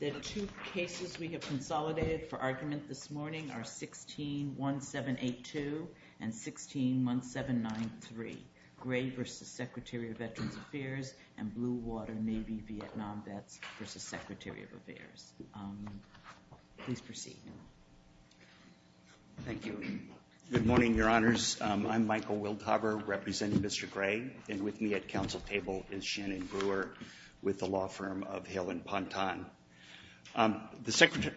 The two cases we have consolidated for argument this morning are 16-1782 and 16-1793, Gray v. Secretary of Veterans Affairs and Blue Water Navy Vietnam Vets v. Secretary of Affairs. Please proceed. Thank you. Good morning, Your Honors. I'm Michael Wildhover, representing Mr. Gray. And with me at council table is Shannon Brewer with the law firm of Hale and Ponton. The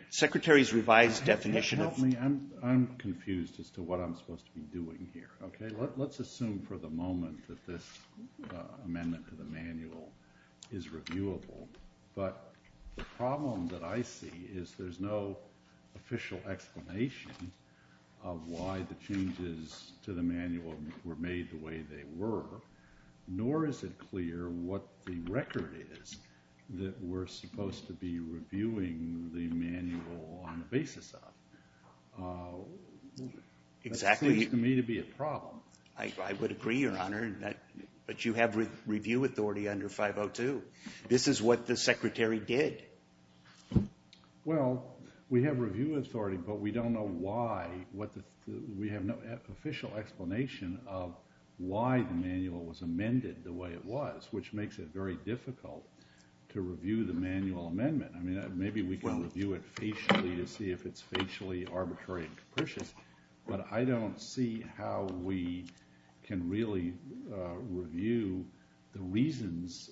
Secretary's revised definition of— Help me. I'm confused as to what I'm supposed to be doing here. Okay? Let's assume for the moment that this amendment to the manual is reviewable. But the problem that I see is there's no official explanation of why the changes to the manual were made the way they were, nor is it clear what the record is that we're supposed to be reviewing the manual on the basis of. Exactly. That seems to me to be a problem. I would agree, Your Honor, but you have review authority under 502. This is what the Secretary did. Well, we have review authority, but we don't know why—we have no official explanation of why the manual was amended the way it was, which makes it very difficult to review the manual amendment. I mean, maybe we can review it facially to see if it's facially arbitrary and capricious, but I don't see how we can really review the reasons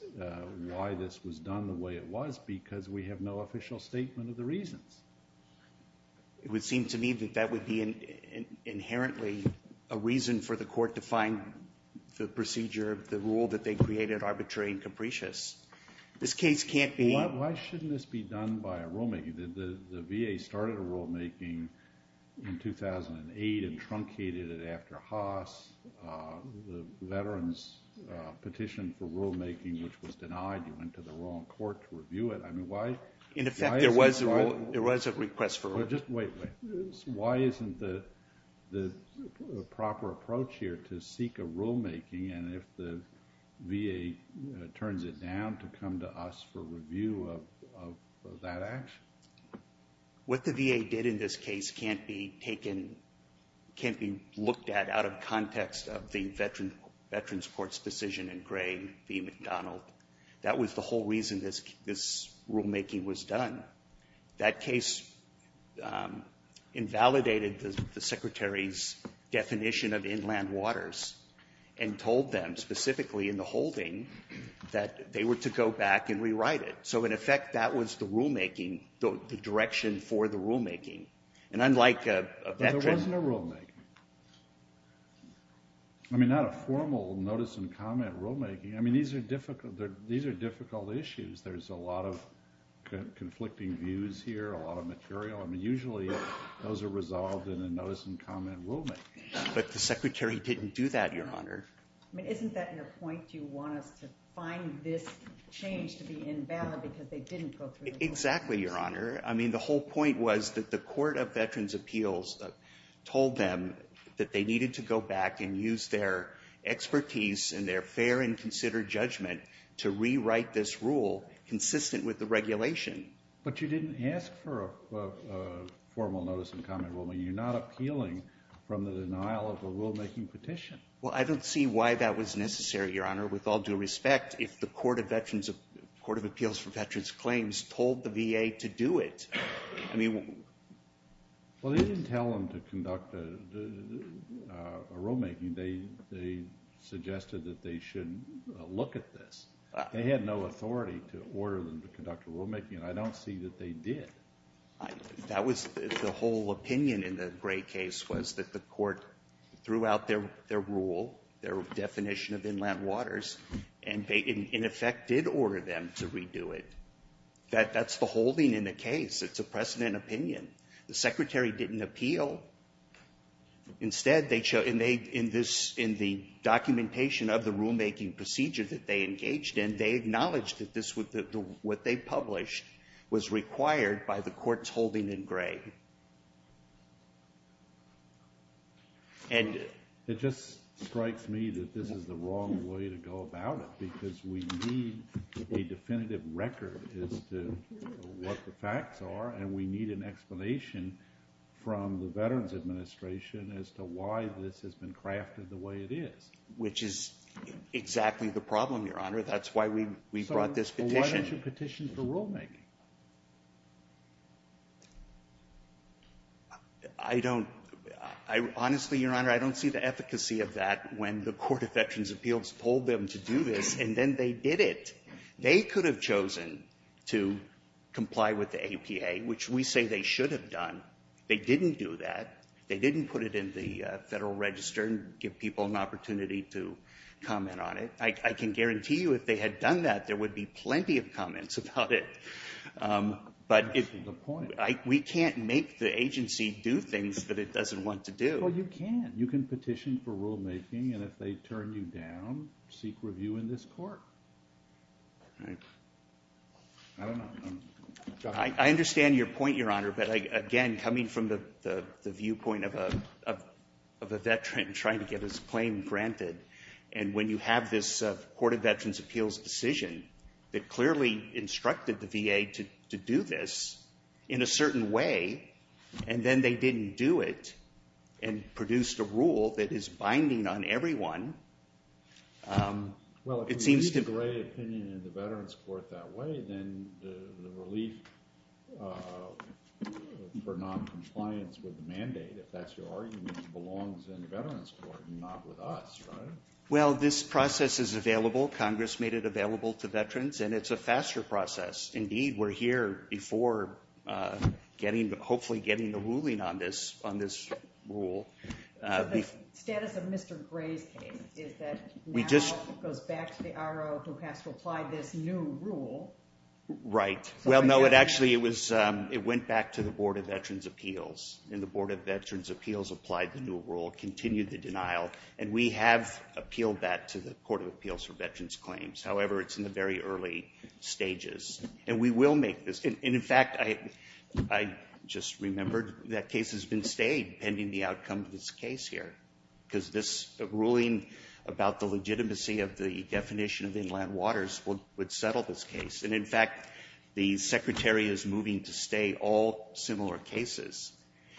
why this was done the way it was because we have no official statement of the reasons. It would seem to me that that would be inherently a reason for the Court to find the procedure of the rule that they created arbitrary and capricious. This case can't be— Why shouldn't this be done by a rulemaker? I mean, the VA started rulemaking in 2008 and truncated it after Haas. The veterans petition for rulemaking, which was denied, you went to the wrong court to review it. I mean, why— In effect, there was a request for rulemaking. Wait, wait. Why isn't the proper approach here to seek a rulemaking, and if the VA turns it down to come to us for review of that action? What the VA did in this case can't be taken—can't be looked at out of context of the Veterans Court's decision in Gray v. McDonald. That was the whole reason this rulemaking was done. That case invalidated the Secretary's definition of inland waters and told them specifically in the holding that they were to go back and rewrite it. So in effect, that was the rulemaking—the direction for the rulemaking. And unlike a veteran— But there wasn't a rulemaking. I mean, not a formal notice-and-comment rulemaking. I mean, these are difficult—these are difficult issues. There's a lot of conflicting views here, a lot of material. I mean, usually those are resolved in a notice-and-comment rulemaking. But the Secretary didn't do that, Your Honor. I mean, isn't that your point? You want us to find this change to be invalid because they didn't go through the rulemaking? Exactly, Your Honor. I mean, the whole point was that the Court of Veterans' Appeals told them that they needed to go back and use their expertise and their fair and considered judgment to rewrite this rule consistent with the regulation. But you didn't ask for a formal notice-and-comment rule. I mean, you're not appealing from the denial of a rulemaking petition. Well, I don't see why that was necessary, Your Honor, with all due respect, if the Court of Appeals for Veterans' Claims told the VA to do it. I mean— Well, they didn't tell them to conduct a rulemaking. They suggested that they shouldn't look at this. They had no authority to order them to conduct a rulemaking, and I don't see that they did. The whole opinion in the Gray case was that the court threw out their rule, their definition of inland waters, and they, in effect, did order them to redo it. That's the holding in the case. It's a precedent opinion. The Secretary didn't appeal. Instead they—in the documentation of the rulemaking procedure that they engaged in, and they acknowledged that what they published was required by the court's holding in Gray. It just strikes me that this is the wrong way to go about it, because we need a definitive record as to what the facts are, and we need an explanation from the Veterans Administration as to why this has been crafted the way it is. Which is exactly the problem, Your Honor. That's why we brought this petition. Well, why don't you petition for rulemaking? I don't — honestly, Your Honor, I don't see the efficacy of that when the Court of Veterans' Appeals told them to do this, and then they did it. They could have chosen to comply with the APA, which we say they should have done. They didn't do that. They didn't put it in the Federal Register and give people an opportunity to comment on it. I can guarantee you if they had done that, there would be plenty of comments about it. That's the point. We can't make the agency do things that it doesn't want to do. Well, you can. You can petition for rulemaking, and if they turn you down, seek review in this Court. I don't know. I understand your point, Your Honor, but again, coming from the viewpoint of a veteran and trying to get his claim granted, and when you have this Court of Veterans' Appeals decision that clearly instructed the VA to do this in a certain way, and then they didn't do it and produced a rule that is binding on everyone, it seems to — Well, if we leave the right of opinion in the Veterans' Court that way, then the relief for noncompliance with the mandate, if that's your argument, belongs in the Veterans' Court and not with us, right? Well, this process is available. Congress made it available to veterans, and it's a faster process. Indeed, we're here before hopefully getting a ruling on this rule. But the status of Mr. Gray's case is that now it goes back to the RO who has to apply this new rule. Right. Well, no, actually, it went back to the Board of Veterans' Appeals, and the Board of Veterans' Appeals has been in denial, and we have appealed that to the Court of Appeals for veterans' claims. However, it's in the very early stages, and we will make this — and, in fact, I just remembered that case has been stayed pending the outcome of this case here, because this ruling about the legitimacy of the definition of inland waters would settle this case. And, in fact, the Secretary is moving to stay all similar cases,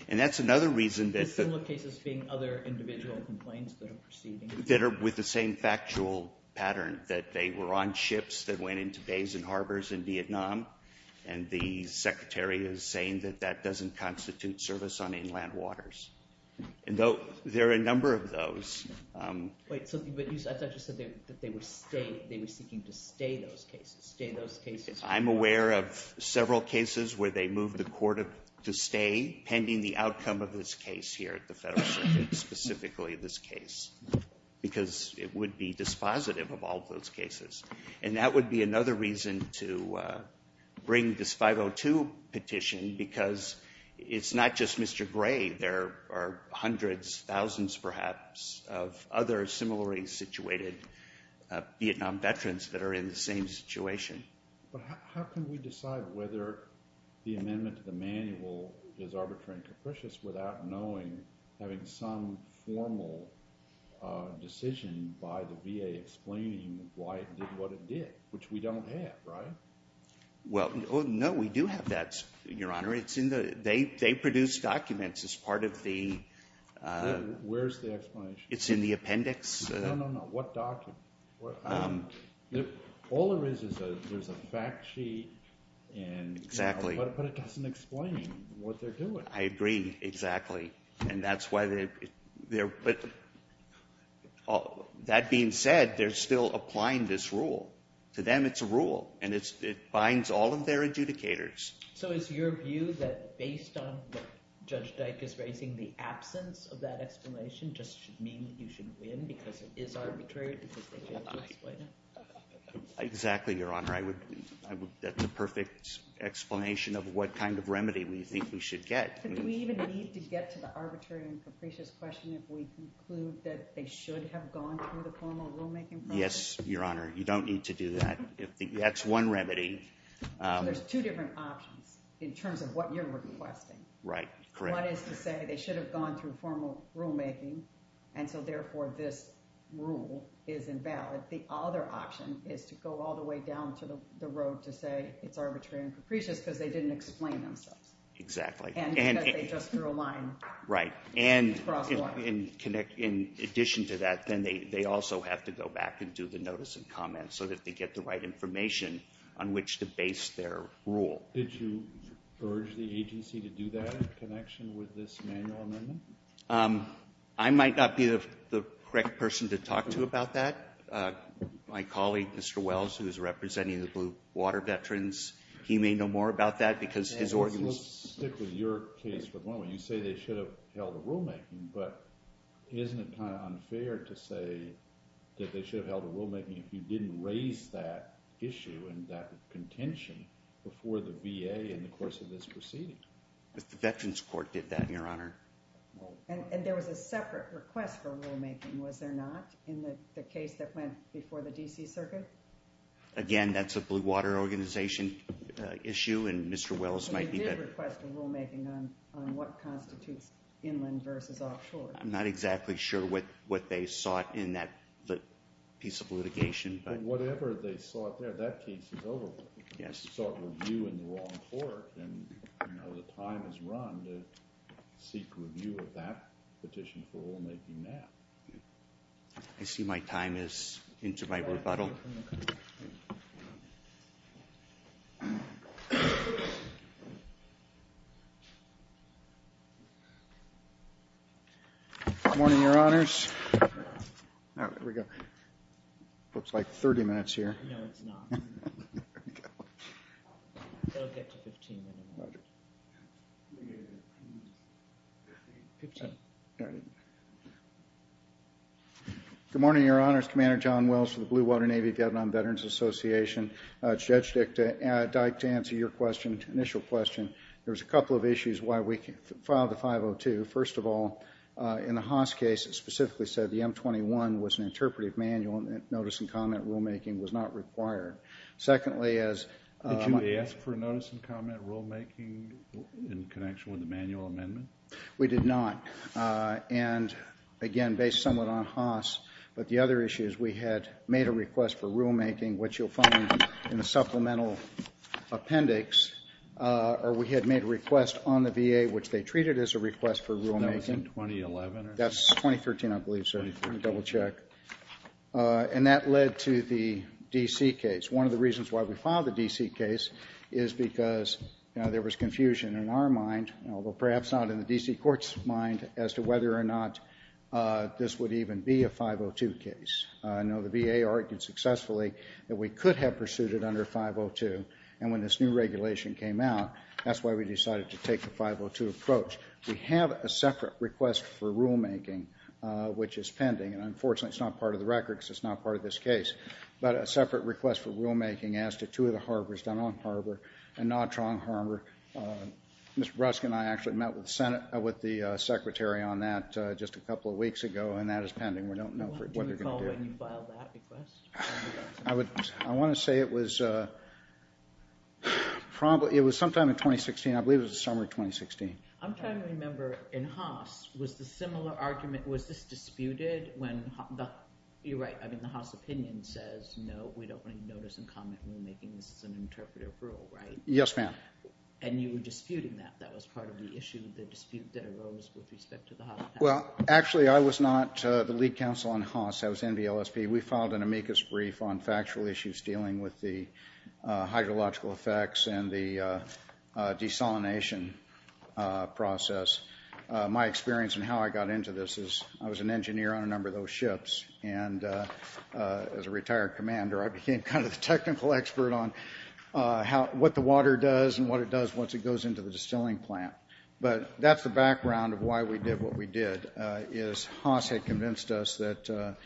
and that's another reason that — Are you saying other individual complaints that are proceeding? That are with the same factual pattern, that they were on ships that went into bays and harbors in Vietnam, and the Secretary is saying that that doesn't constitute service on inland waters. And though there are a number of those — Wait. So, but you said that they would stay — they were seeking to stay those cases, stay those cases — I'm aware of several cases where they moved the court to stay pending the outcome of this case here at the Federal Circuit, specifically this case, because it would be dispositive of all those cases. And that would be another reason to bring this 502 petition, because it's not just Mr. Gray. There are hundreds, thousands perhaps, of other similarly situated Vietnam veterans that are in the same situation. But how can we decide whether the amendment to the manual is arbitrary and capricious without knowing, having some formal decision by the VA explaining why it did what it did, which we don't have, right? Well, no, we do have that, Your Honor. It's in the — they produce documents as part of the — Where's the explanation? It's in the appendix. No, no, no. What document? All there is, is there's a fact sheet, but it doesn't explain what they're doing. I agree, exactly, and that's why they're — but that being said, they're still applying this rule. To them, it's a rule, and it binds all of their adjudicators. So is your view that based on what Judge Dyk is raising, the absence of that explanation just should mean you should win because it is arbitrary because they failed to explain it? Exactly, Your Honor. I would — that's a perfect explanation of what kind of remedy we think we should get. Do we even need to get to the arbitrary and capricious question if we conclude that they should have gone through the formal rulemaking process? Yes, Your Honor. You don't need to do that. That's one remedy. So there's two different options in terms of what you're requesting. Right. Correct. One is to say they should have gone through formal rulemaking, and so therefore this rule is invalid. The other option is to go all the way down to the road to say it's arbitrary and capricious because they didn't explain themselves. Exactly. And because they just drew a line. Right. Across the line. And in addition to that, then they also have to go back and do the notice and comment so that they get the right information on which to base their rule. Did you urge the agency to do that in connection with this manual amendment? I might not be the correct person to talk to about that. My colleague, Mr. Wells, who is representing the Blue Water Veterans, he may know more about that because his organization... Let's stick with your case for the moment. You say they should have held a rulemaking, but isn't it kind of unfair to say that they should have held a rulemaking if you didn't raise that issue and that contention before the VA in the course of this proceeding? The Veterans Court did that, Your Honor. And there was a separate request for rulemaking, was there not, in the case that went before the D.C. Circuit? Again, that's a Blue Water Organization issue, and Mr. Wells might be better... So they did request a rulemaking on what constitutes inland versus offshore? I'm not exactly sure what they sought in that piece of litigation, but... Whatever they sought there, that case is over with. Yes. Well, if they sought review in the wrong court, then the time has run to seek review of that petition for rulemaking now. I see my time is into my rebuttal. Morning, Your Honors. Here we go. Looks like 30 minutes here. No, it's not. There we go. It'll get to 15 minutes. Okay. Good morning, Your Honors. Commander John Wells for the Blue Water Navy Vietnam Veterans Association. Judge Dyke, to answer your question, initial question, there was a couple of issues why we filed a 502. First of all, in the Haas case, it specifically said the M21 was an interpretive manual and notice and comment rulemaking was not required. Secondly, as... Did you ask for notice and comment rulemaking in connection with the manual amendment? We did not. And, again, based somewhat on Haas, but the other issue is we had made a request for rulemaking, which you'll find in the supplemental appendix, or we had made a request on the VA, which they treated as a request for rulemaking. So that was in 2011? That's 2013, I believe, sir. Let me double check. And that led to the D.C. case. One of the reasons why we filed the D.C. case is because there was confusion in our mind, although perhaps not in the D.C. court's mind, as to whether or not this would even be a 502 case. I know the VA argued successfully that we could have pursued it under 502, and when this new regulation came out, that's why we decided to take the 502 approach. We have a separate request for rulemaking, which is pending. And, unfortunately, it's not part of the record because it's not part of this case. But a separate request for rulemaking as to two of the harbors, Dunn-Ong Harbor and Nottrong Harbor. Mr. Bruskin and I actually met with the Secretary on that just a couple of weeks ago, and that is pending. We don't know what they're going to do. Do you recall when you filed that request? I want to say it was sometime in 2016. I believe it was the summer of 2016. I'm trying to remember. In Haas, was the similar argument, was this disputed? You're right. I mean, the Haas opinion says, no, we don't want to notice and comment rulemaking. This is an interpretive rule, right? Yes, ma'am. And you were disputing that. That was part of the issue, the dispute that arose with respect to the Haas patent. Well, actually, I was not the lead counsel on Haas. I was NBLSP. We filed an amicus brief on factual issues dealing with the hydrological effects and the desalination process. My experience and how I got into this is I was an engineer on a number of those ships, and as a retired commander, I became kind of the technical expert on what the water does and what it does once it goes into the distilling plant. But that's the background of why we did what we did, is Haas had convinced us that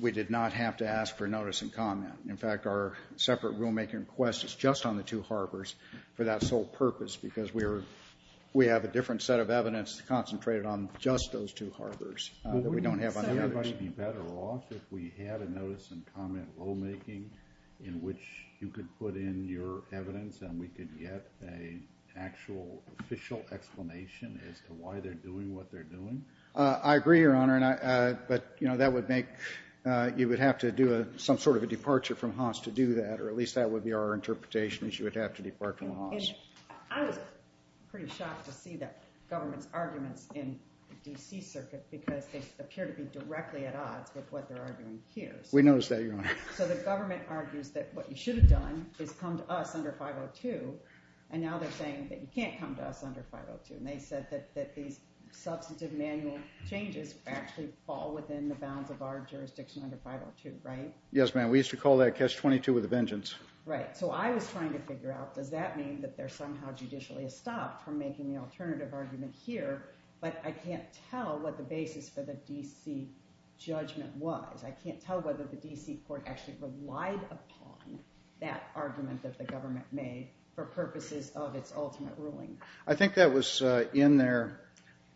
we did not have to ask for notice and comment. In fact, our separate rulemaking request is just on the two harbors for that sole purpose because we have a different set of evidence concentrated on just those two harbors that we don't have on the others. Wouldn't it be better off if we had a notice and comment rulemaking in which you could put in your evidence and we could get an actual official explanation as to why they're doing what they're doing? I agree, Your Honor. But that would make—you would have to do some sort of a departure from Haas to do that, or at least that would be our interpretation, is you would have to depart from Haas. I was pretty shocked to see the government's arguments in the D.C. Circuit because they appear to be directly at odds with what they're arguing here. We noticed that, Your Honor. So the government argues that what you should have done is come to us under 502, and now they're saying that you can't come to us under 502. And they said that these substantive manual changes actually fall within the bounds of our jurisdiction under 502, right? Yes, ma'am. We used to call that case 22 with a vengeance. Right. So I was trying to figure out, does that mean that they're somehow judicially stopped from making the alternative argument here? But I can't tell what the basis for the D.C. judgment was. I can't tell whether the D.C. court actually relied upon that argument that the government made for purposes of its ultimate ruling. I think that was in their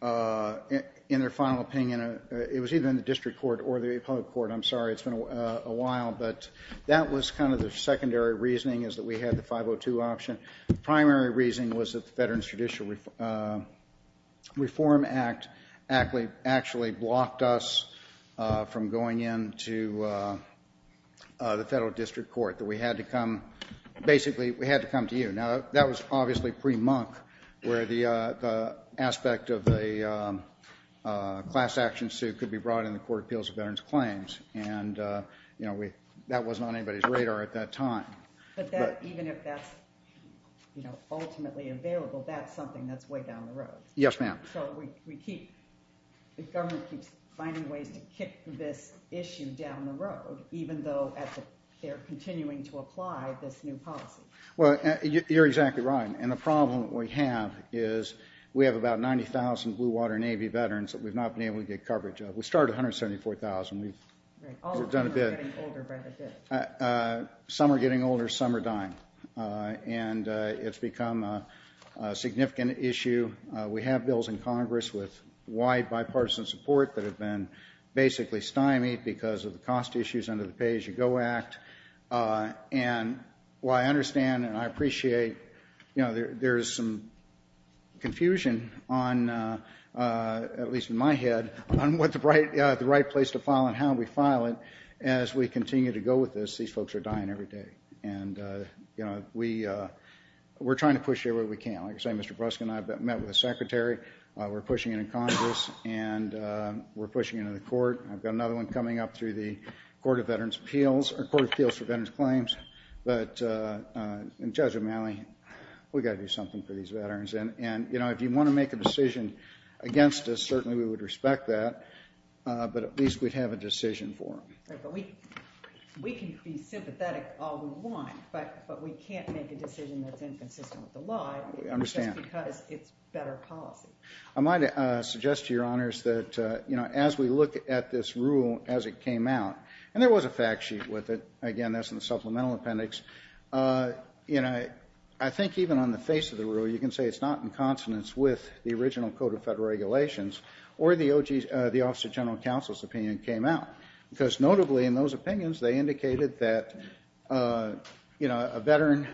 final opinion. It was either in the district court or the public court. I'm sorry. It's been a while. But that was kind of the secondary reasoning is that we had the 502 option. The primary reasoning was that the Veterans Judicial Reform Act actually blocked us from going into the federal district court, that we had to come to you. Now, that was obviously pre-monk, where the aspect of a class action suit could be brought in the Court of Appeals of Veterans Claims. And that wasn't on anybody's radar at that time. But even if that's ultimately available, that's something that's way down the road. Yes, ma'am. So the government keeps finding ways to kick this issue down the road, even though they're continuing to apply this new policy. Well, you're exactly right. And the problem that we have is we have about 90,000 Blue Water Navy veterans that we've not been able to get coverage of. We started at 174,000. We've done a bit. Right. All of them are getting older by the day. Some are getting older, some are dying. And it's become a significant issue. We have bills in Congress with wide bipartisan support that have been basically stymied because of the cost issues under the Pay As You Go Act. And what I understand and I appreciate, there's some confusion on, at least in my head, on what the right place to file and how we file it. As we continue to go with this, these folks are dying every day. And we're trying to push it where we can. Like I say, Mr. Bruskin and I have met with the Secretary. We're pushing it in Congress. And we're pushing it in the Court. I've got another one coming up through the Court of Appeals for Veterans Claims. But Judge O'Malley, we've got to do something for these veterans. And if you want to make a decision against us, certainly we would respect that. But at least we'd have a decision for them. Right. But we can be sympathetic all we want. But we can't make a decision that's inconsistent with the law. I understand. Just because it's better policy. I might suggest to your honors that as we look at this rule as it came out, and there was a fact sheet with it. Again, that's in the supplemental appendix. I think even on the face of the rule, you can say it's not in consonance with the original Code of Federal Regulations or the Office of General Counsel's opinion came out. Because notably in those opinions, they indicated that a veteran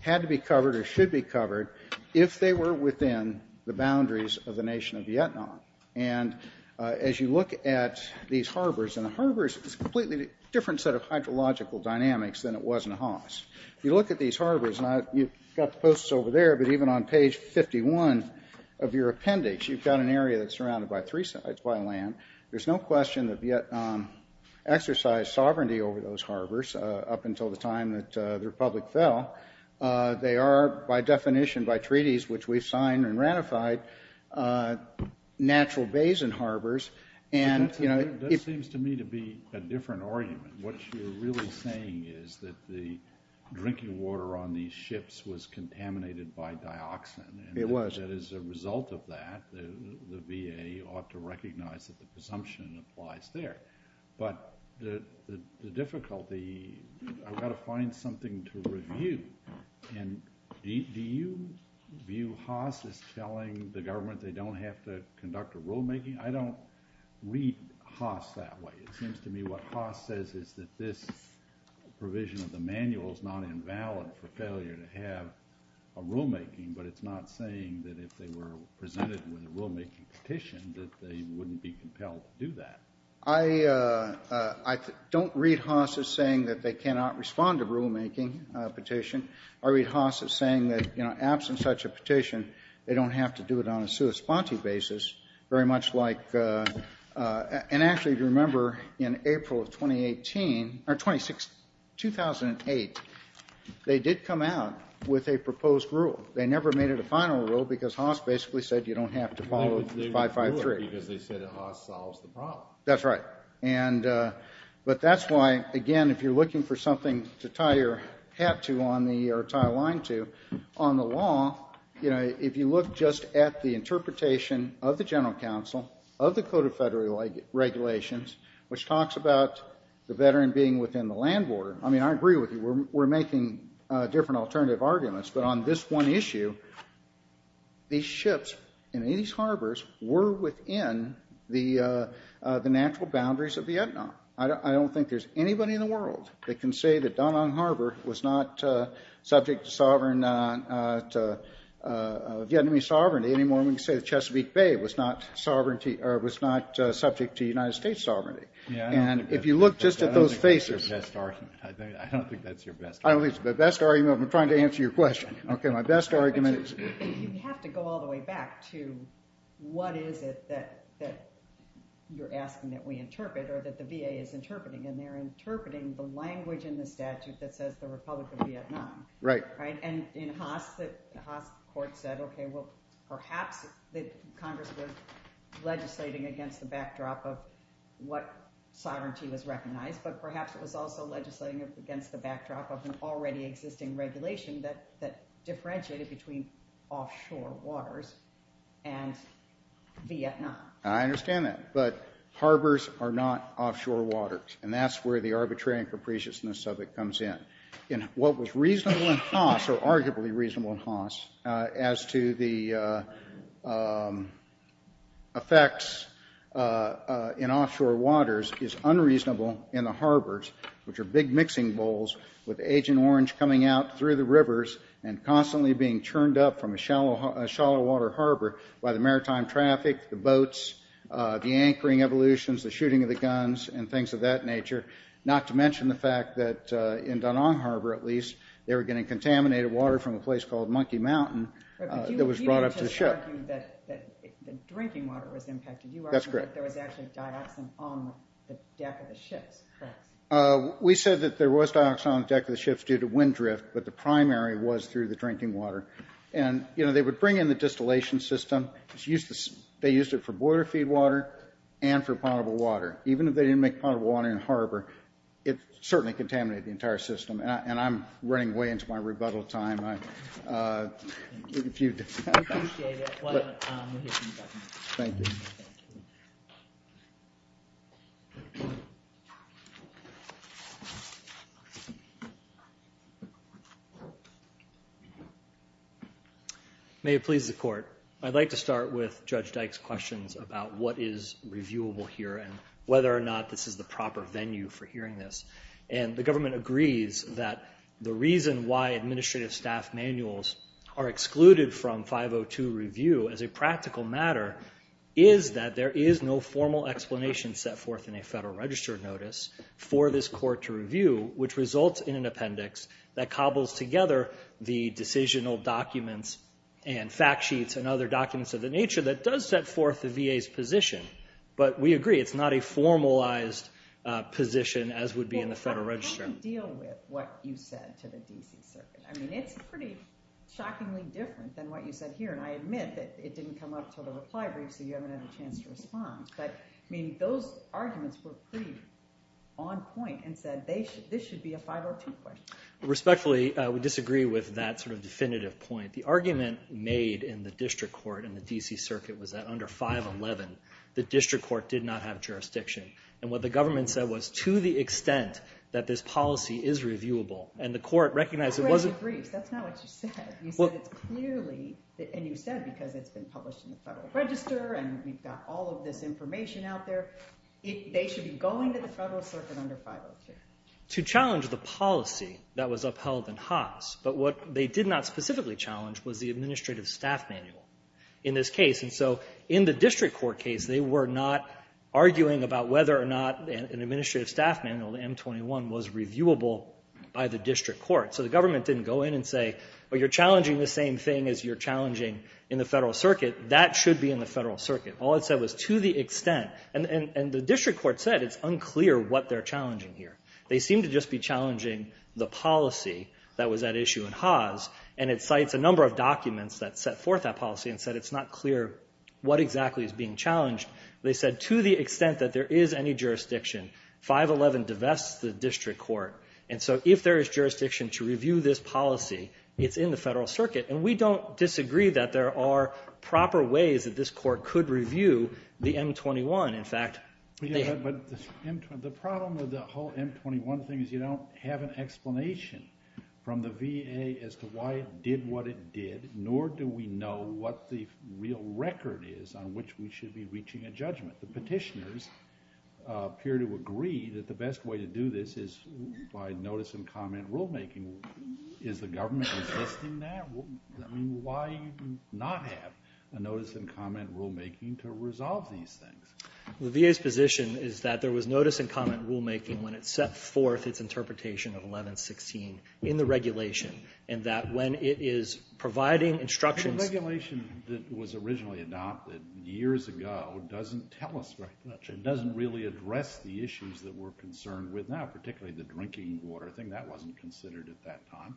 had to be covered if they were within the boundaries of the nation of Vietnam. And as you look at these harbors, and the harbors is a completely different set of hydrological dynamics than it was in Haas. If you look at these harbors, and you've got the posts over there, but even on page 51 of your appendix, you've got an area that's surrounded by three sides, by land. There's no question that Vietnam exercised sovereignty over those harbors up until the time that the Republic fell. They are, by definition, by treaties, which we've signed and ratified, natural basin harbors. And, you know, it seems to me to be a different argument. What you're really saying is that the drinking water on these ships was contaminated by dioxin. It was. And as a result of that, the VA ought to recognize that the presumption applies there. But the difficulty, I've got to find something to review. And do you view Haas as telling the government they don't have to conduct a rulemaking? I don't read Haas that way. It seems to me what Haas says is that this provision of the manual is not invalid for failure to have a rulemaking, but it's not saying that if they were presented with a rulemaking petition, that they wouldn't be compelled to do that. I don't read Haas as saying that they cannot respond to rulemaking petition. I read Haas as saying that, you know, absent such a petition, they don't have to do it on a sui sponte basis, very much like, and actually, if you remember, in April of 2018, or 2006, 2008, they did come out with a proposed rule. They never made it a final rule because Haas basically said you don't have to follow 553. Because they said Haas solves the problem. That's right. But that's why, again, if you're looking for something to tie your hat to on the, or tie a line to, on the law, you know, if you look just at the interpretation of the General Counsel, of the Code of Federal Regulations, which talks about the veteran being within the land border. I mean, I agree with you. We're making different alternative arguments. But on this one issue, these ships and these harbors were within the natural boundaries of Vietnam. I don't think there's anybody in the world that can say that Da Nang Harbor was not subject to sovereign, Vietnamese sovereignty any more than we can say the Chesapeake Bay was not subject to United States sovereignty. And if you look just at those faces. I don't think that's your best argument. I don't think that's your best argument. I'm trying to answer your question. Okay. My best argument is. You have to go all the way back to what is it that you're asking that we interpret, or that the VA is interpreting. And they're interpreting the language in the statute that says the Republic of Vietnam. Right. And in Haas, the Haas court said, okay, well, perhaps Congress was legislating against the backdrop of what sovereignty was recognized. But perhaps it was also legislating against the backdrop of an already existing regulation that differentiated between offshore waters and Vietnam. I understand that. But harbors are not offshore waters. And that's where the arbitrary and capriciousness of it comes in. In what was reasonable in Haas, or arguably reasonable in Haas, as to the effects in offshore waters is unreasonable in the harbors, which are big mixing bowls with Agent Orange coming out through the rivers and constantly being churned up from a shallow water harbor by the maritime traffic, the boats, the anchoring evolutions, the shooting of the guns, and things of that nature. Not to mention the fact that in Da Nang Harbor, at least, they were getting contaminated water from a place called Monkey Mountain that was brought up to the ship. But you didn't just argue that drinking water was impacted. That's correct. You argued that there was actually dioxin on the deck of the ships. We said that there was dioxin on the deck of the ships due to wind drift. But the primary was through the drinking water. And, you know, they would bring in the distillation system. They used it for boiler feed water and for potable water. Even if they didn't make potable water in the harbor, it certainly contaminated the entire system. And I'm running way into my rebuttal time. Thank you. May it please the Court. I'd like to start with Judge Dyke's questions about what is reviewable here and whether or not this is the proper venue for hearing this. And the government agrees that the reason why administrative staff manuals are excluded from 502 review as a practical matter is that there is no formal explanation set forth in a Federal Register notice for this court to review, which results in an appendix that cobbles together the decisional documents and fact sheets and other documents of the nature that does set forth the VA's position. But we agree it's not a formalized position as would be in the Federal Register. Well, how do you deal with what you said to the D.C. Circuit? I mean, it's pretty shockingly different than what you said here. And I admit that it didn't come up until the reply brief, so you haven't had a chance to respond. But, I mean, those arguments were pretty on point and said this should be a 502 question. Respectfully, we disagree with that sort of definitive point. The argument made in the District Court in the D.C. Circuit was that under 511, the District Court did not have jurisdiction. And what the government said was to the extent that this policy is reviewable, and the court recognized it wasn't- That's not what you said. You said it's clearly, and you said because it's been published in the Federal Register and we've got all of this information out there, they should be going to the Federal Circuit under 502. To challenge the policy that was upheld in Haas, but what they did not specifically challenge was the Administrative Staff Manual in this case. And so in the District Court case, they were not arguing about whether or not an Administrative Staff Manual, the M21, was reviewable by the District Court. So the government didn't go in and say, well, you're challenging the same thing as you're challenging in the Federal Circuit. That should be in the Federal Circuit. All it said was to the extent. And the District Court said it's unclear what they're challenging here. They seem to just be challenging the policy that was at issue in Haas. And it cites a number of documents that set forth that policy and said it's not clear what exactly is being challenged. They said to the extent that there is any jurisdiction, 511 divests the District Court. And so if there is jurisdiction to review this policy, it's in the Federal Circuit. And we don't disagree that there are proper ways that this Court could review the M21. In fact, they have. But the problem with the whole M21 thing is you don't have an explanation from the VA as to why it did what it did, nor do we know what the real record is on which we should be reaching a judgment. The petitioners appear to agree that the best way to do this is by notice and comment rulemaking. Is the government resisting that? I mean, why not have a notice and comment rulemaking to resolve these things? The VA's position is that there was notice and comment rulemaking when it set forth its interpretation of 1116 in the regulation, and that when it is providing instructions The regulation that was originally adopted years ago doesn't tell us very much. It doesn't really address the issues that we're concerned with now, particularly the drinking water thing. That wasn't considered at that time.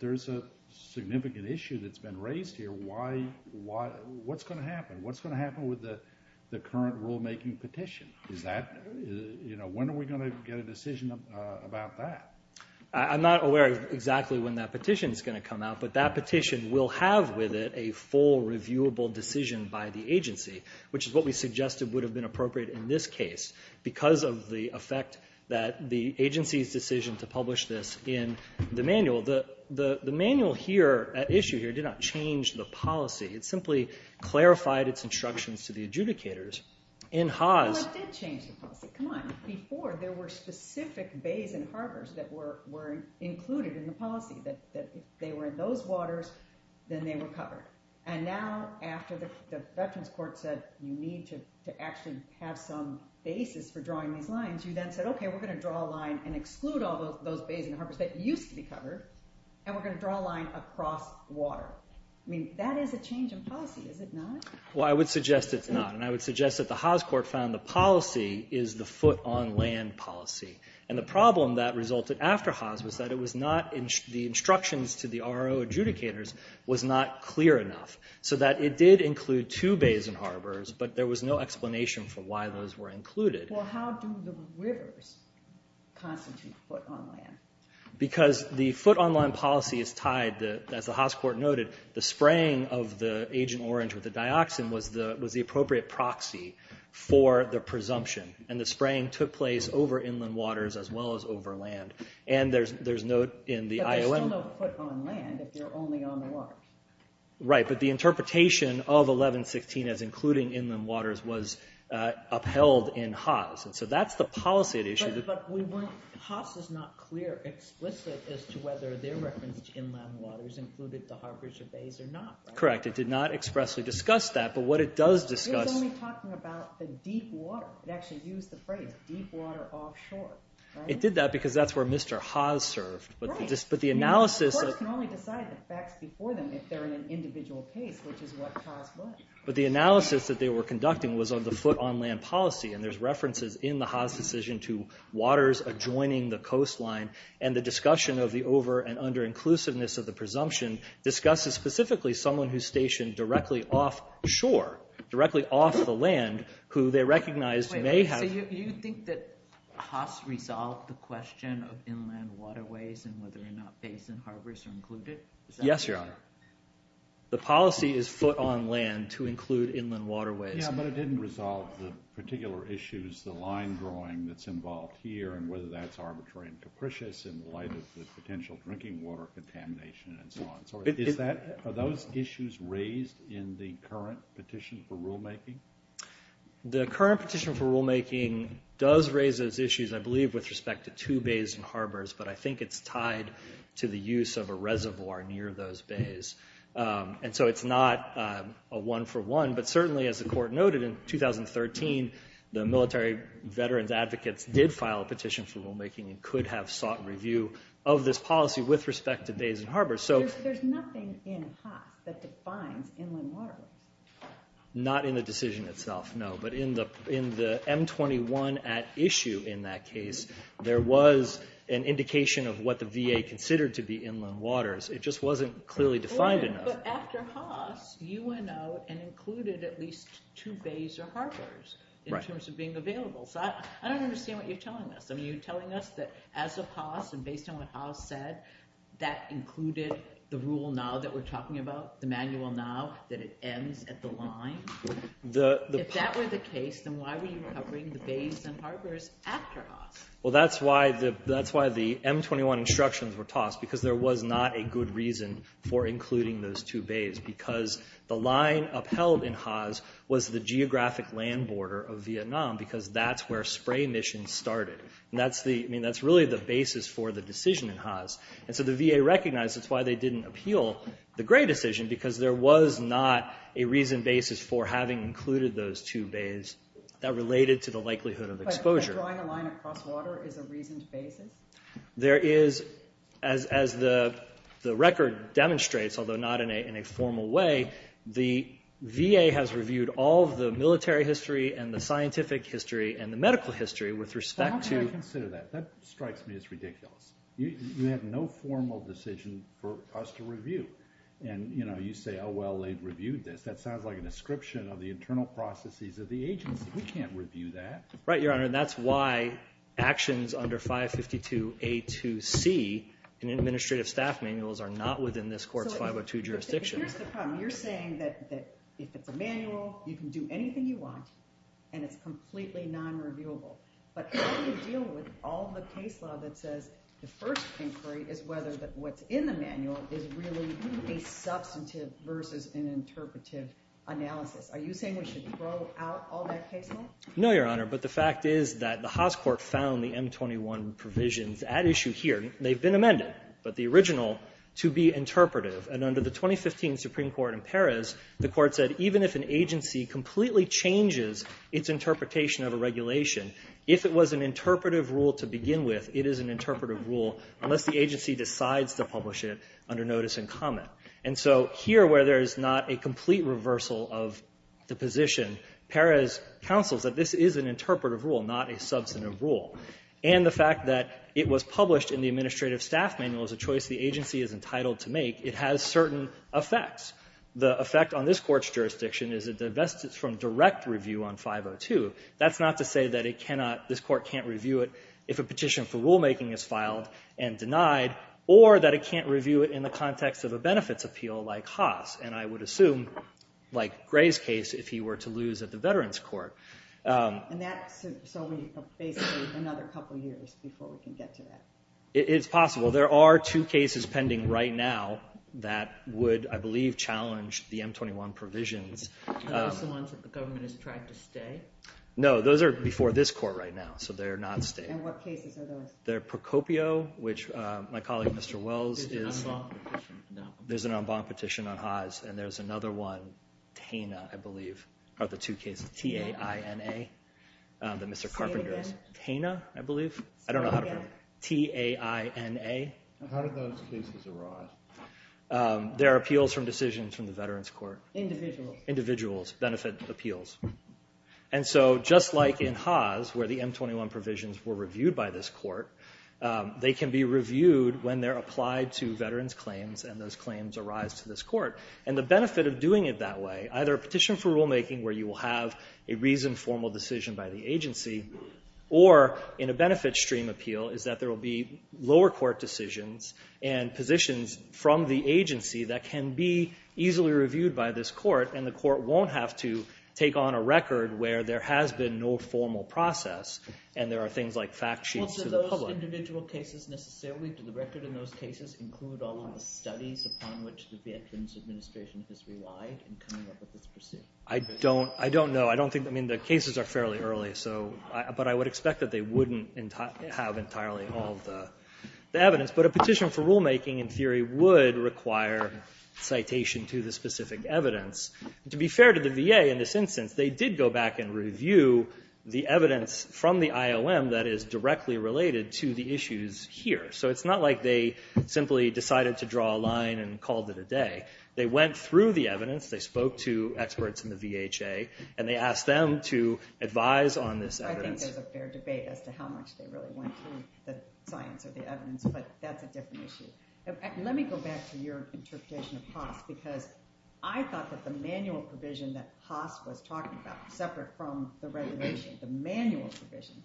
There's a significant issue that's been raised here. What's going to happen? What's going to happen with the current rulemaking petition? When are we going to get a decision about that? I'm not aware of exactly when that petition is going to come out, but that petition will have with it a full, reviewable decision by the agency, which is what we suggested would have been appropriate in this case because of the effect that the agency's decision to publish this in the manual. The manual here, at issue here, did not change the policy. It simply clarified its instructions to the adjudicators in Haas. Well, it did change the policy. Come on. Before, there were specific bays and harbors that were included in the policy, that if they were in those waters, then they were covered. Now, after the Veterans Court said, you need to actually have some basis for drawing these lines, you then said, okay, we're going to draw a line and exclude all those bays and harbors that used to be covered, and we're going to draw a line across water. That is a change in policy, is it not? Well, I would suggest it's not. I would suggest that the Haas court found the policy is the foot-on-land policy. The problem that resulted after Haas was that it was not, the instructions to the RO adjudicators was not clear enough, so that it did include two bays and harbors, but there was no explanation for why those were included. Well, how do the rivers constitute foot-on-land? Because the foot-on-land policy is tied, as the Haas court noted, the spraying of the Agent Orange with the dioxin was the appropriate proxy for the presumption, and the spraying took place over inland waters as well as over land. But there's still no foot-on-land if you're only on the waters. Right, but the interpretation of 1116 as including inland waters was upheld in Haas, and so that's the policy at issue. But we weren't, Haas is not clear, explicit, as to whether they referenced inland waters included the harbors or bays or not. Correct, it did not expressly discuss that, but what it does discuss... It was only talking about the deep water. It actually used the phrase deep water offshore. It did that because that's where Mr. Haas served. But the analysis... The court can only decide the facts before them if they're in an individual case, which is what Haas was. But the analysis that they were conducting was on the foot-on-land policy, and there's references in the Haas decision to waters adjoining the coastline, and the discussion of the over- and under-inclusiveness of the presumption discusses specifically someone who's stationed directly offshore, directly off the land, who they recognized may have... So you think that Haas resolved the question of inland waterways and whether or not bays and harbors are included? Yes, Your Honor. The policy is foot-on-land to include inland waterways. Yeah, but it didn't resolve the particular issues, the line drawing that's involved here, and whether that's arbitrary and capricious in light of the potential drinking water contamination and so on. Are those issues raised in the current petition for rulemaking? The current petition for rulemaking does raise those issues, I believe, with respect to two bays and harbors, but I think it's tied to the use of a reservoir near those bays. And so it's not a one-for-one, but certainly, as the Court noted in 2013, the military veterans advocates did file a petition for rulemaking and could have sought review of this policy with respect to bays and harbors. There's nothing in Haas that defines inland waterways. Not in the decision itself, no. But in the M21 at issue in that case, there was an indication of what the VA considered to be inland waters. It just wasn't clearly defined enough. But after Haas, you went out and included at least two bays or harbors in terms of being available. So I don't understand what you're telling us. I mean, you're telling us that as of Haas and based on what Haas said, that included the rule now that we're talking about, the manual now, that it ends at the line? If that were the case, then why were you covering the bays and harbors after Haas? Well, that's why the M21 instructions were tossed, because there was not a good reason for including those two bays, because the line upheld in Haas was the geographic land border of Vietnam because that's where spray missions started. I mean, that's really the basis for the decision in Haas. And so the VA recognized that's why they didn't appeal the Gray decision, because there was not a reasoned basis for having included those two bays that related to the likelihood of exposure. But drawing a line across water is a reasoned basis? There is. As the record demonstrates, although not in a formal way, the VA has reviewed all of the military history and the scientific history and the medical history with respect to— I don't want to consider that. That strikes me as ridiculous. You have no formal decision for us to review. And, you know, you say, oh, well, they've reviewed this. That sounds like a description of the internal processes of the agency. We can't review that. Right, Your Honor, and that's why actions under 552A2C in administrative staff manuals are not within this court's 502 jurisdiction. Here's the problem. You're saying that if it's a manual, you can do anything you want, and it's completely non-reviewable. But how do you deal with all the case law that says the first inquiry is whether what's in the manual is really a substantive versus an interpretive analysis? Are you saying we should throw out all that case law? No, Your Honor, but the fact is that the Haas court found the M21 provisions at issue here. They've been amended, but the original, to be interpretive. And under the 2015 Supreme Court in Paris, the court said, even if an agency completely changes its interpretation of a regulation, if it was an interpretive rule to begin with, it is an interpretive rule unless the agency decides to publish it under notice and comment. And so here, where there is not a complete reversal of the position, Paris counsels that this is an interpretive rule, not a substantive rule. And the fact that it was published in the administrative staff manual is a choice the agency is entitled to make. It has certain effects. The effect on this court's jurisdiction is it divests it from direct review on 502. That's not to say that it cannot, this court can't review it if a petition for rulemaking is filed and denied, or that it can't review it in the context of a benefits appeal like Haas. And I would assume, like Gray's case, if he were to lose at the Veterans Court. And that's so we have basically another couple years before we can get to that. It's possible. There are two cases pending right now that would, I believe, challenge the M21 provisions. Are those the ones that the government has tried to stay? No, those are before this court right now, so they're not staying. And what cases are those? They're Procopio, which my colleague, Mr. Wells, is. There's an en banc petition. There's an en banc petition on Haas, and there's another one, Taina, I believe, are the two cases, T-A-I-N-A, that Mr. Carpenter's. Say it again. Taina, I believe. Say it again. T-A-I-N-A. How did those cases arise? They're appeals from decisions from the Veterans Court. Individuals. Individuals, benefit appeals. And so just like in Haas, where the M21 provisions were reviewed by this court, they can be reviewed when they're applied to veterans' claims, and those claims arise to this court. And the benefit of doing it that way, either a petition for rulemaking where you will have a reasoned formal decision by the agency, or in a benefit stream appeal is that there will be lower court decisions and positions from the agency that can be easily reviewed by this court, and the court won't have to take on a record where there has been no formal process, and there are things like fact sheets to the public. Well, do those individual cases necessarily, do the record in those cases include all of the studies upon which the Veterans Administration has relied in coming up with this procedure? I don't know. I mean, the cases are fairly early, but I would expect that they wouldn't have entirely all of the evidence. Yes, but a petition for rulemaking in theory would require citation to the specific evidence. To be fair to the VA in this instance, they did go back and review the evidence from the IOM that is directly related to the issues here. So it's not like they simply decided to draw a line and called it a day. They went through the evidence, they spoke to experts in the VHA, and they asked them to advise on this evidence. I think there's a fair debate as to how much they really went through the science or the evidence, but that's a different issue. Let me go back to your interpretation of Haas, because I thought that the manual provision that Haas was talking about, separate from the regulation, the manual provision,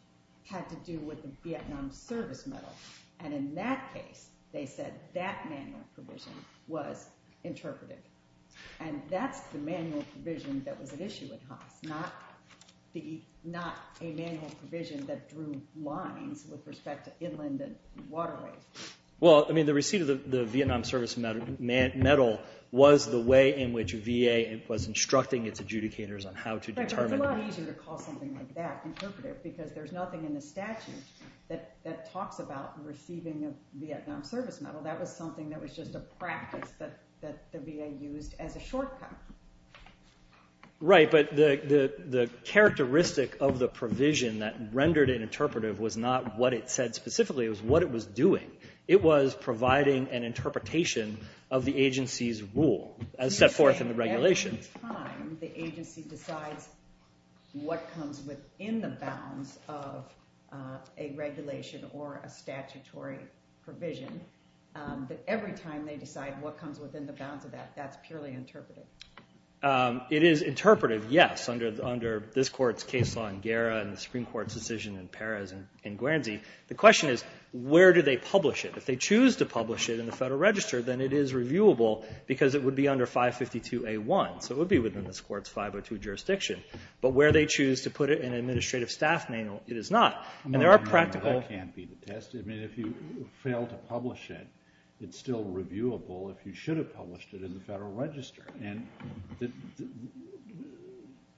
had to do with the Vietnam Service Medal. And in that case, they said that manual provision was interpreted. And that's the manual provision that was at issue with Haas, not a manual provision that drew lines with respect to inland and waterways. Well, I mean, the receipt of the Vietnam Service Medal was the way in which VA was instructing its adjudicators on how to determine— It's a lot easier to call something like that interpretive, because there's nothing in the statute that talks about receiving a Vietnam Service Medal. That was something that was just a practice that the VA used as a shortcut. Right, but the characteristic of the provision that rendered it interpretive was not what it said specifically, it was what it was doing. It was providing an interpretation of the agency's rule, as set forth in the regulation. You're saying every time the agency decides what comes within the bounds of a regulation or a statutory provision, that every time they decide what comes within the bounds of that, that's purely interpretive? It is interpretive, yes, under this Court's case law in Guerra and the Supreme Court's decision in Perez and Guernsey. The question is, where do they publish it? If they choose to publish it in the Federal Register, then it is reviewable, because it would be under 552A1. So it would be within this Court's 502 jurisdiction. But where they choose to put it in an administrative staff manual, it is not. No, no, no, that can't be the test. I mean, if you fail to publish it, it's still reviewable if you should have published it in the Federal Register. And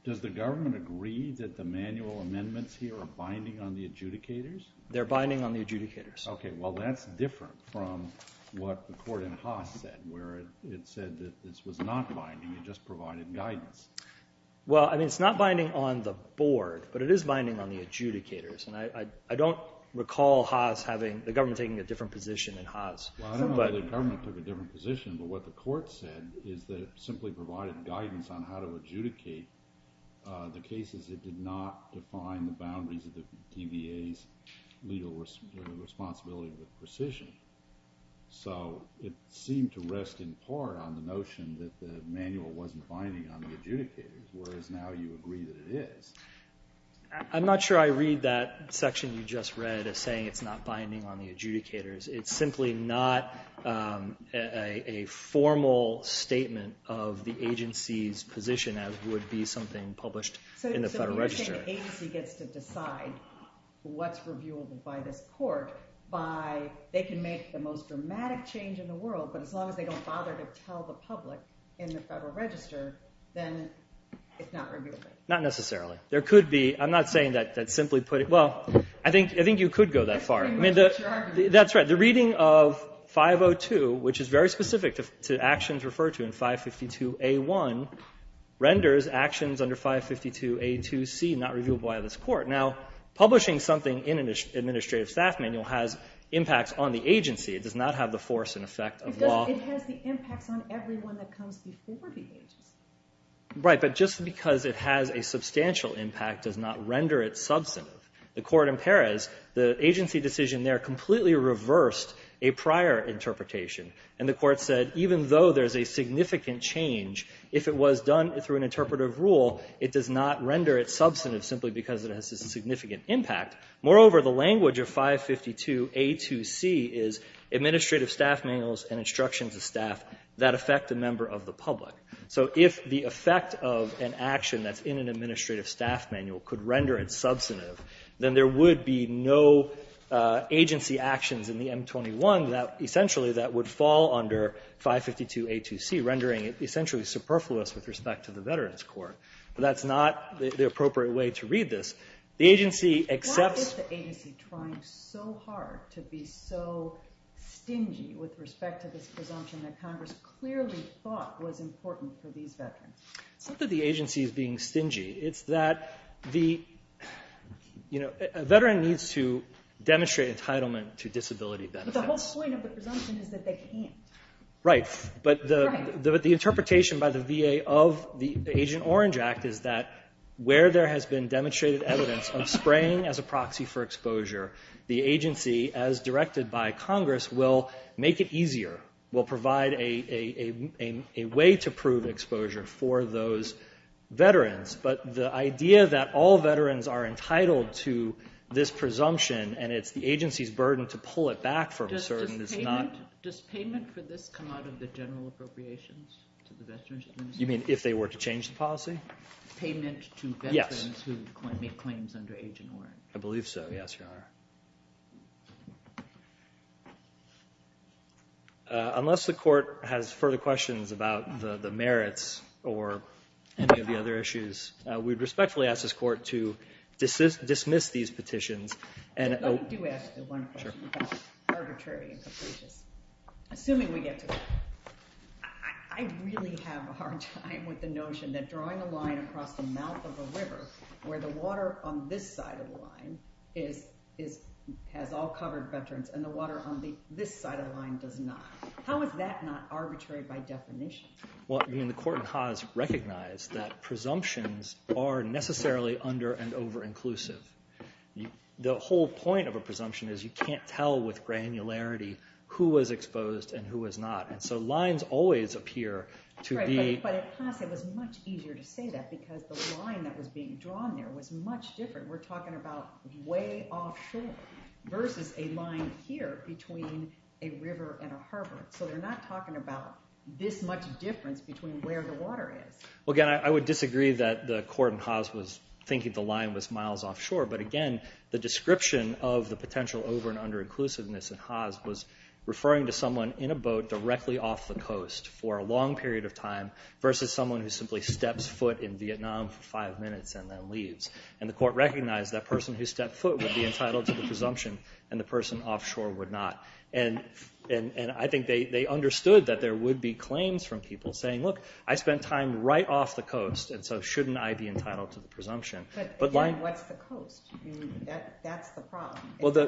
does the government agree that the manual amendments here are binding on the adjudicators? They're binding on the adjudicators. Okay, well, that's different from what the Court in Haas said, where it said that this was not binding, it just provided guidance. Well, I mean, it's not binding on the Board, but it is binding on the adjudicators. And I don't recall the government taking a different position in Haas. Well, I don't know that the government took a different position, but what the Court said is that it simply provided guidance on how to adjudicate the cases. It did not define the boundaries of the DBA's legal responsibility with precision. So it seemed to rest in part on the notion that the manual wasn't binding on the adjudicators, whereas now you agree that it is. I'm not sure I read that section you just read as saying it's not binding on the adjudicators. It's simply not a formal statement of the agency's position as would be something published in the Federal Register. So you're saying the agency gets to decide what's reviewable by this Court by they can make the most dramatic change in the world, but as long as they don't bother to tell the public in the Federal Register, then it's not reviewable. Not necessarily. There could be. I'm not saying that simply put it. Well, I think you could go that far. I mean, that's right. The reading of 502, which is very specific to actions referred to in 552A1, renders actions under 552A2C not reviewable by this Court. Now, publishing something in an administrative staff manual has impacts on the agency. It does not have the force and effect of law. Because it has the impacts on everyone that comes before the agency. Right, but just because it has a substantial impact does not render it substantive. The Court in Perez, the agency decision there completely reversed a prior interpretation, and the Court said even though there's a significant change, if it was done through an interpretive rule, it does not render it substantive simply because it has a significant impact. Moreover, the language of 552A2C is administrative staff manuals and instructions of staff that affect a member of the public. So if the effect of an action that's in an administrative staff manual could render it substantive, then there would be no agency actions in the M21 essentially that would fall under 552A2C, rendering it essentially superfluous with respect to the Veterans Court. But that's not the appropriate way to read this. The agency accepts... Why is the agency trying so hard to be so stingy with respect to this presumption that Congress clearly thought was important for these veterans? It's not that the agency is being stingy. It's that a veteran needs to demonstrate entitlement to disability benefits. But the whole point of the presumption is that they can't. Right, but the interpretation by the VA of the Agent Orange Act is that where there has been demonstrated evidence of spraying as a proxy for exposure, the agency, as directed by Congress, will make it easier, will provide a way to prove exposure for those veterans. But the idea that all veterans are entitled to this presumption and it's the agency's burden to pull it back from a certain is not... Does payment for this come out of the general appropriations to the Veterans Administration? You mean if they were to change the policy? Payment to veterans who make claims under Agent Orange. I believe so, yes, Your Honor. Unless the court has further questions about the merits or any of the other issues, we'd respectfully ask this court to dismiss these petitions. Let me do ask you one question about arbitrary and capricious. Assuming we get to it. I really have a hard time with the notion that drawing a line across the mouth of a river where the water on this side of the line has all covered veterans and the water on this side of the line does not. How is that not arbitrary by definition? The court in Haas recognized that presumptions are necessarily under- and over-inclusive. The whole point of a presumption is you can't tell with granularity who was exposed and who was not. So lines always appear to be... But at Haas it was much easier to say that because the line that was being drawn there was much different. We're talking about way offshore versus a line here between a river and a harbor. So they're not talking about this much difference between where the water is. Again, I would disagree that the court in Haas was thinking the line was miles offshore. But again, the description of the potential over- and under-inclusiveness in Haas was referring to someone in a boat directly off the coast for a long period of time versus someone who simply steps foot in Vietnam for five minutes and then leaves. And the court recognized that person who stepped foot would be entitled to the presumption and the person offshore would not. And I think they understood that there would be claims from people saying, look, I spent time right off the coast and so shouldn't I be entitled to the presumption? But again, what's the coast? That's the problem.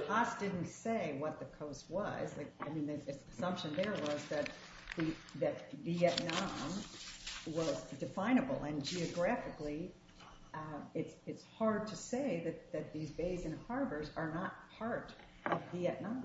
Haas didn't say what the coast was. The assumption there was that Vietnam was definable. And geographically, it's hard to say that these bays and harbors are not part of Vietnam.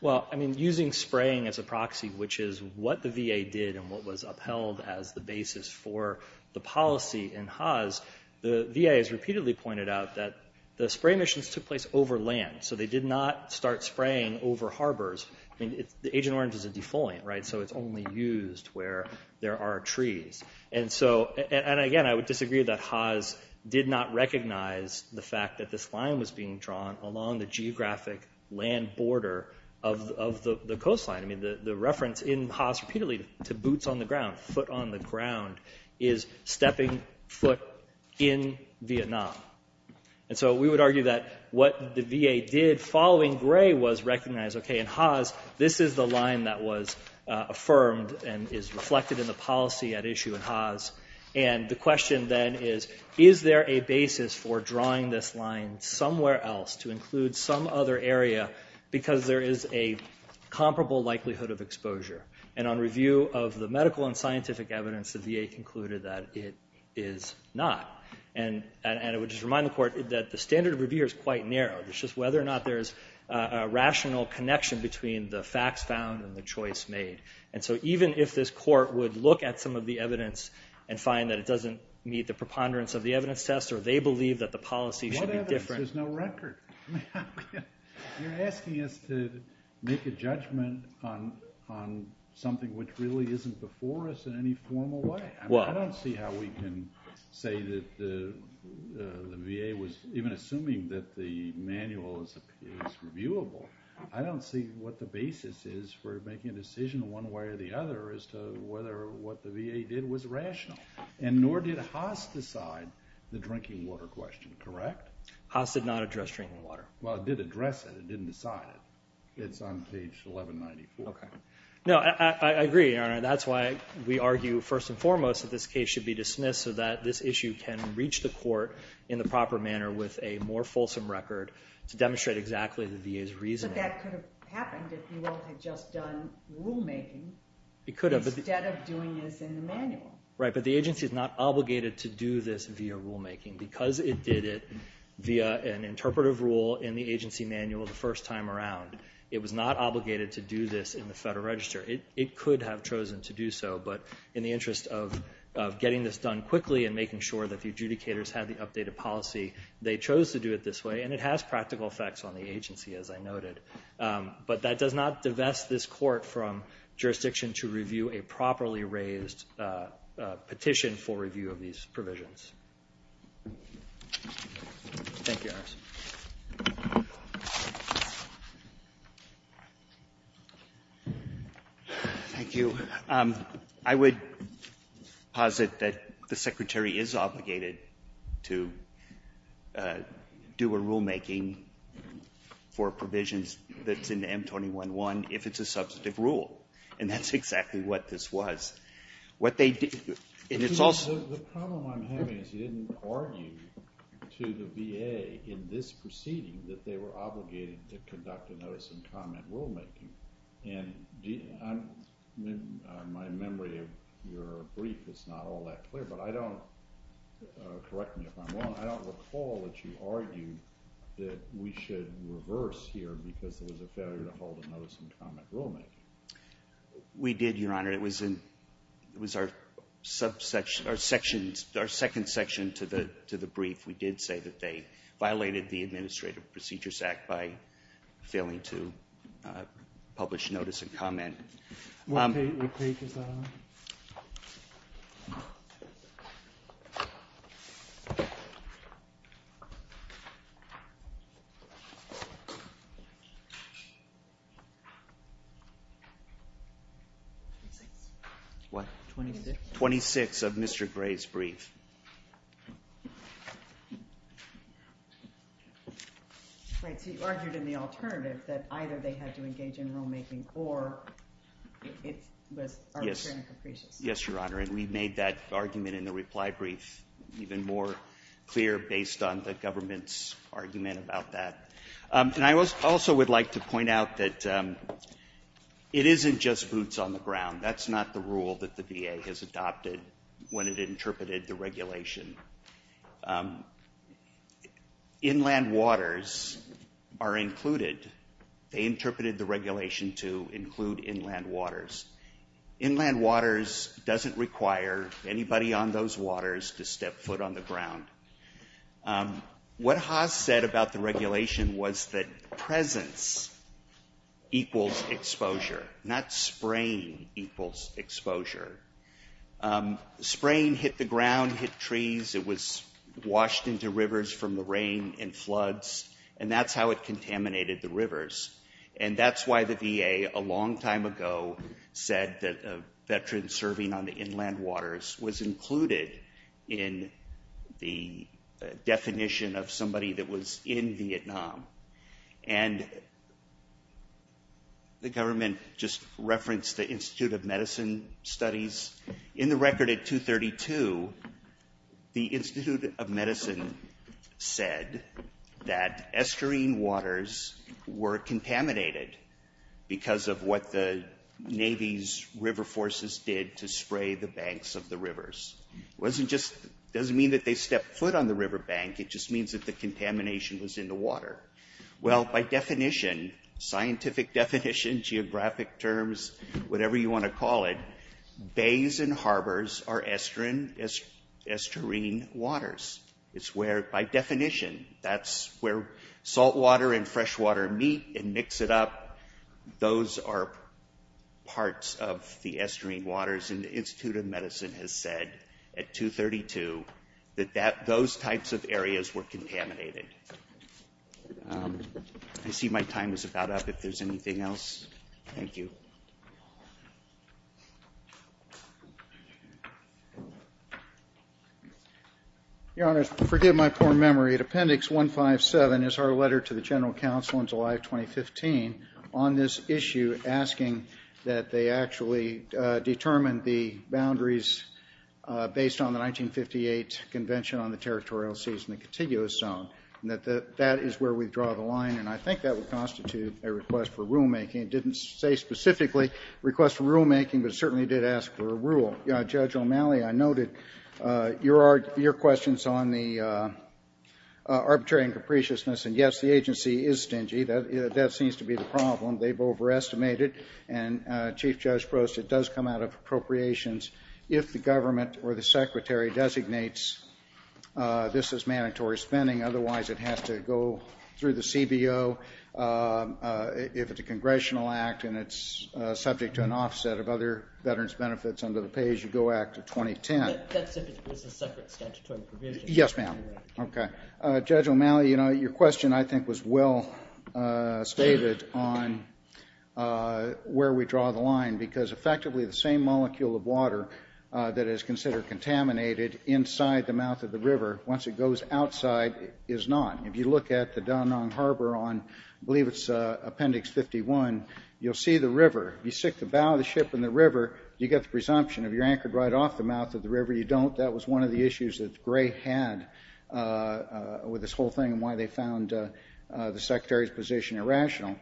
Well, I mean, using spraying as a proxy, which is what the VA did and what was upheld as the basis for the policy in Haas, the VA has repeatedly pointed out that the spray missions took place over land. So they did not start spraying over harbors. The Agent Orange is a defoliant, right? So it's only used where there are trees. And again, I would disagree that Haas did not recognize the fact that this line was being drawn along the geographic land border of the coastline. I mean, the reference in Haas repeatedly to boots on the ground, foot on the ground, is stepping foot in Vietnam. And so we would argue that what the VA did following Gray was recognize, okay, in Haas, this is the line that was affirmed and is reflected in the policy at issue in Haas. And the question then is, is there a basis for drawing this line somewhere else to include some other area because there is a comparable likelihood of exposure? And on review of the medical and scientific evidence, the VA concluded that it is not. And I would just remind the Court that the standard of review here is quite narrow. It's just whether or not there is a rational connection between the facts found and the choice made. And so even if this Court would look at some of the evidence and find that it doesn't meet the preponderance of the evidence test or they believe that the policy should be different... What happens if there's no record? You're asking us to make a judgment on something which really isn't before us in any formal way. I don't see how we can say that the VA was... Even assuming that the manual is reviewable, I don't see what the basis is for making a decision one way or the other as to whether what the VA did was rational. And nor did Haas decide the drinking water question, correct? Haas did not address drinking water. Well, it did address it. It didn't decide it. Okay. No, I agree, Your Honor. That's why we argue first and foremost that this case should be dismissed so that this issue can reach the Court in the proper manner with a more fulsome record to demonstrate exactly the VA's reasoning. But that could have happened if you all had just done rulemaking instead of doing this in the manual. Right, but the agency is not obligated to do this via rulemaking. Because it did it via an interpretive rule in the agency manual the first time around, it was not obligated to do this in the Federal Register. It could have chosen to do so. But in the interest of getting this done quickly and making sure that the adjudicators had the updated policy, they chose to do it this way. And it has practical effects on the agency, as I noted. But that does not divest this Court from jurisdiction to review a properly raised petition for review of these provisions. Thank you, Your Honor. Thank you. I would posit that the Secretary is obligated to do a rulemaking for provisions that's in the M21-1 if it's a substantive rule. And that's exactly what this was. What they did, and it's also... The problem I'm having is you didn't argue to the VA in this proceeding that they were obligated to conduct a notice and comment rulemaking. And my memory of your brief is not all that clear. But I don't... Correct me if I'm wrong. I don't recall that you argued that we should reverse here because there was a failure to hold a notice and comment rulemaking. We did, Your Honor. It was our second section to the brief. We did say that they violated the Administrative Procedures Act by failing to publish notice and comment. What page is that on? 26. What? 26. 26 of Mr. Gray's brief. Right. So you argued in the alternative that either they had to engage in rulemaking or it was arbitrary and capricious. Yes, Your Honor. And we made that argument in the reply brief even more clear based on the government's argument about that. And I also would like to point out that it isn't just boots on the ground. That's not the rule that the VA has adopted when it interpreted the regulation. Inland waters are included. They interpreted the regulation to include inland waters. Inland waters doesn't require anybody on those waters to step foot on the ground. What Haas said about the regulation was that presence equals exposure, not spraying equals exposure. Spraying hit the ground, hit trees. It was washed into rivers from the rain and floods, and that's how it contaminated the rivers. And that's why the VA a long time ago said that a veteran serving on the inland waters was included in the definition of somebody that was in Vietnam. And the government just referenced the Institute of Medicine studies. In the record at 232, the Institute of Medicine said that estuarine waters were contaminated because of what the Navy's river forces did to spray the banks of the rivers. It doesn't mean that they stepped foot on the river bank. It just means that the contamination was in the water. Well, by definition, scientific definition, geographic terms, whatever you want to call it, bays and harbors are estuarine waters. It's where, by definition, that's where saltwater and freshwater meet and mix it up. Those are parts of the estuarine waters, and the Institute of Medicine has said at 232 that those types of areas were contaminated. I see my time is about up. If there's anything else, thank you. Your Honors, forgive my poor memory. Appendix 157 is our letter to the General Counsel in July of 2015 on this issue, asking that they actually determine the boundaries based on the 1958 Convention on the Territorial Seas and the Contiguous Zone. That is where we draw the line, and I think that would constitute a request for rulemaking. It didn't say specifically request for rulemaking, but it certainly did ask for a rule. Judge O'Malley, I noted your questions on the arbitrary and capriciousness, and, yes, the agency is stingy. That seems to be the problem. They've overestimated, and Chief Judge Prost, it does come out of appropriations. If the government or the Secretary designates this as mandatory spending, otherwise it has to go through the CBO. If it's a congressional act and it's subject to an offset of other veterans' benefits under the Pay As You Go Act of 2010. That's if it was a separate statutory provision. Yes, ma'am. Okay. Judge O'Malley, you know, your question I think was well stated on where we draw the line because effectively the same molecule of water that is considered contaminated inside the mouth of the river, once it goes outside, is not. If you look at the Da Nang Harbor on, I believe it's Appendix 51, you'll see the river. If you stick the bow of the ship in the river, you get the presumption. If you're anchored right off the mouth of the river, you don't. I hope that was one of the issues that Gray had with this whole thing and why they found the Secretary's position irrational.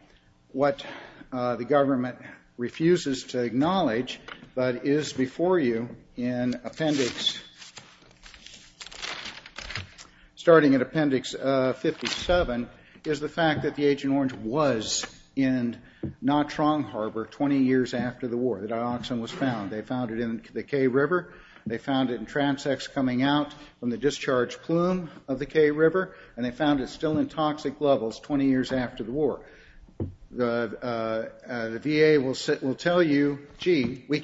What the government refuses to acknowledge but is before you in Appendix, starting at Appendix 57, is the fact that the Agent Orange was in Nha Trang Harbor 20 years after the war. The dioxin was found. They found it in the Cay River. They found it in transects coming out from the discharge plume of the Cay River, and they found it still in toxic levels 20 years after the war. The VA will tell you, gee, we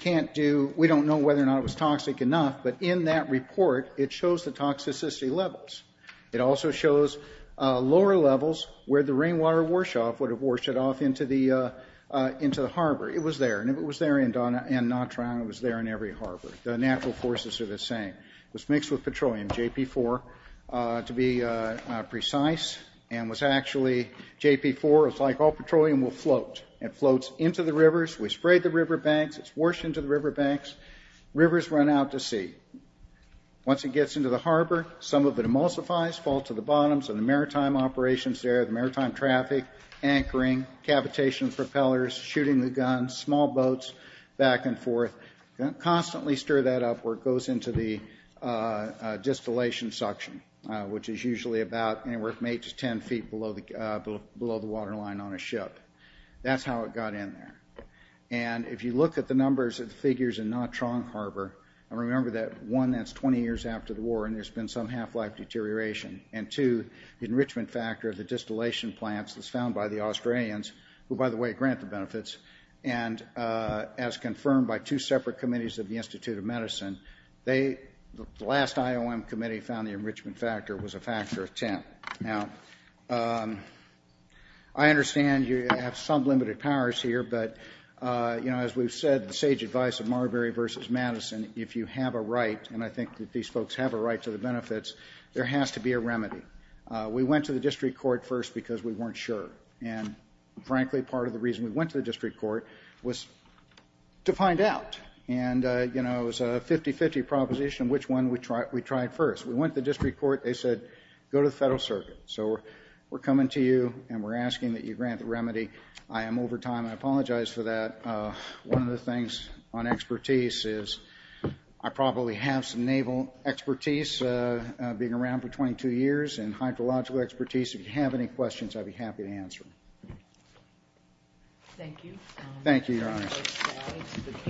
don't know whether or not it was toxic enough, but in that report it shows the toxicity levels. It also shows lower levels where the rainwater wash off would have washed it off into the harbor. The natural forces are the same. It was mixed with petroleum, JP4, to be precise, and was actually JP4. It was like all petroleum will float. It floats into the rivers. We sprayed the riverbanks. It's washed into the riverbanks. Rivers run out to sea. Once it gets into the harbor, some of it emulsifies, falls to the bottoms, and the maritime operations there, the maritime traffic, anchoring, cavitation of propellers, shooting the guns, small boats back and forth, constantly stir that up where it goes into the distillation suction, which is usually about anywhere from 8 to 10 feet below the waterline on a ship. That's how it got in there. If you look at the numbers of the figures in Nantrong Harbor, remember that, one, that's 20 years after the war and there's been some half-life deterioration, and, two, the enrichment factor of the distillation plants was found by the Australians, who, by the way, grant the benefits, and as confirmed by two separate committees of the Institute of Medicine, the last IOM committee found the enrichment factor was a factor of 10. Now, I understand you have some limited powers here, but, you know, as we've said, the sage advice of Marbury versus Madison, if you have a right, and I think that these folks have a right to the benefits, there has to be a remedy. We went to the district court first because we weren't sure, and, frankly, part of the reason we went to the district court was to find out, and, you know, it was a 50-50 proposition which one we tried first. We went to the district court. They said, go to the Federal Circuit. So we're coming to you and we're asking that you grant the remedy. I am over time. I apologize for that. One of the things on expertise is I probably have some naval expertise, being around for 22 years, and hydrological expertise. If you have any questions, I'd be happy to answer them. Thank you. Thank you, Your Honor.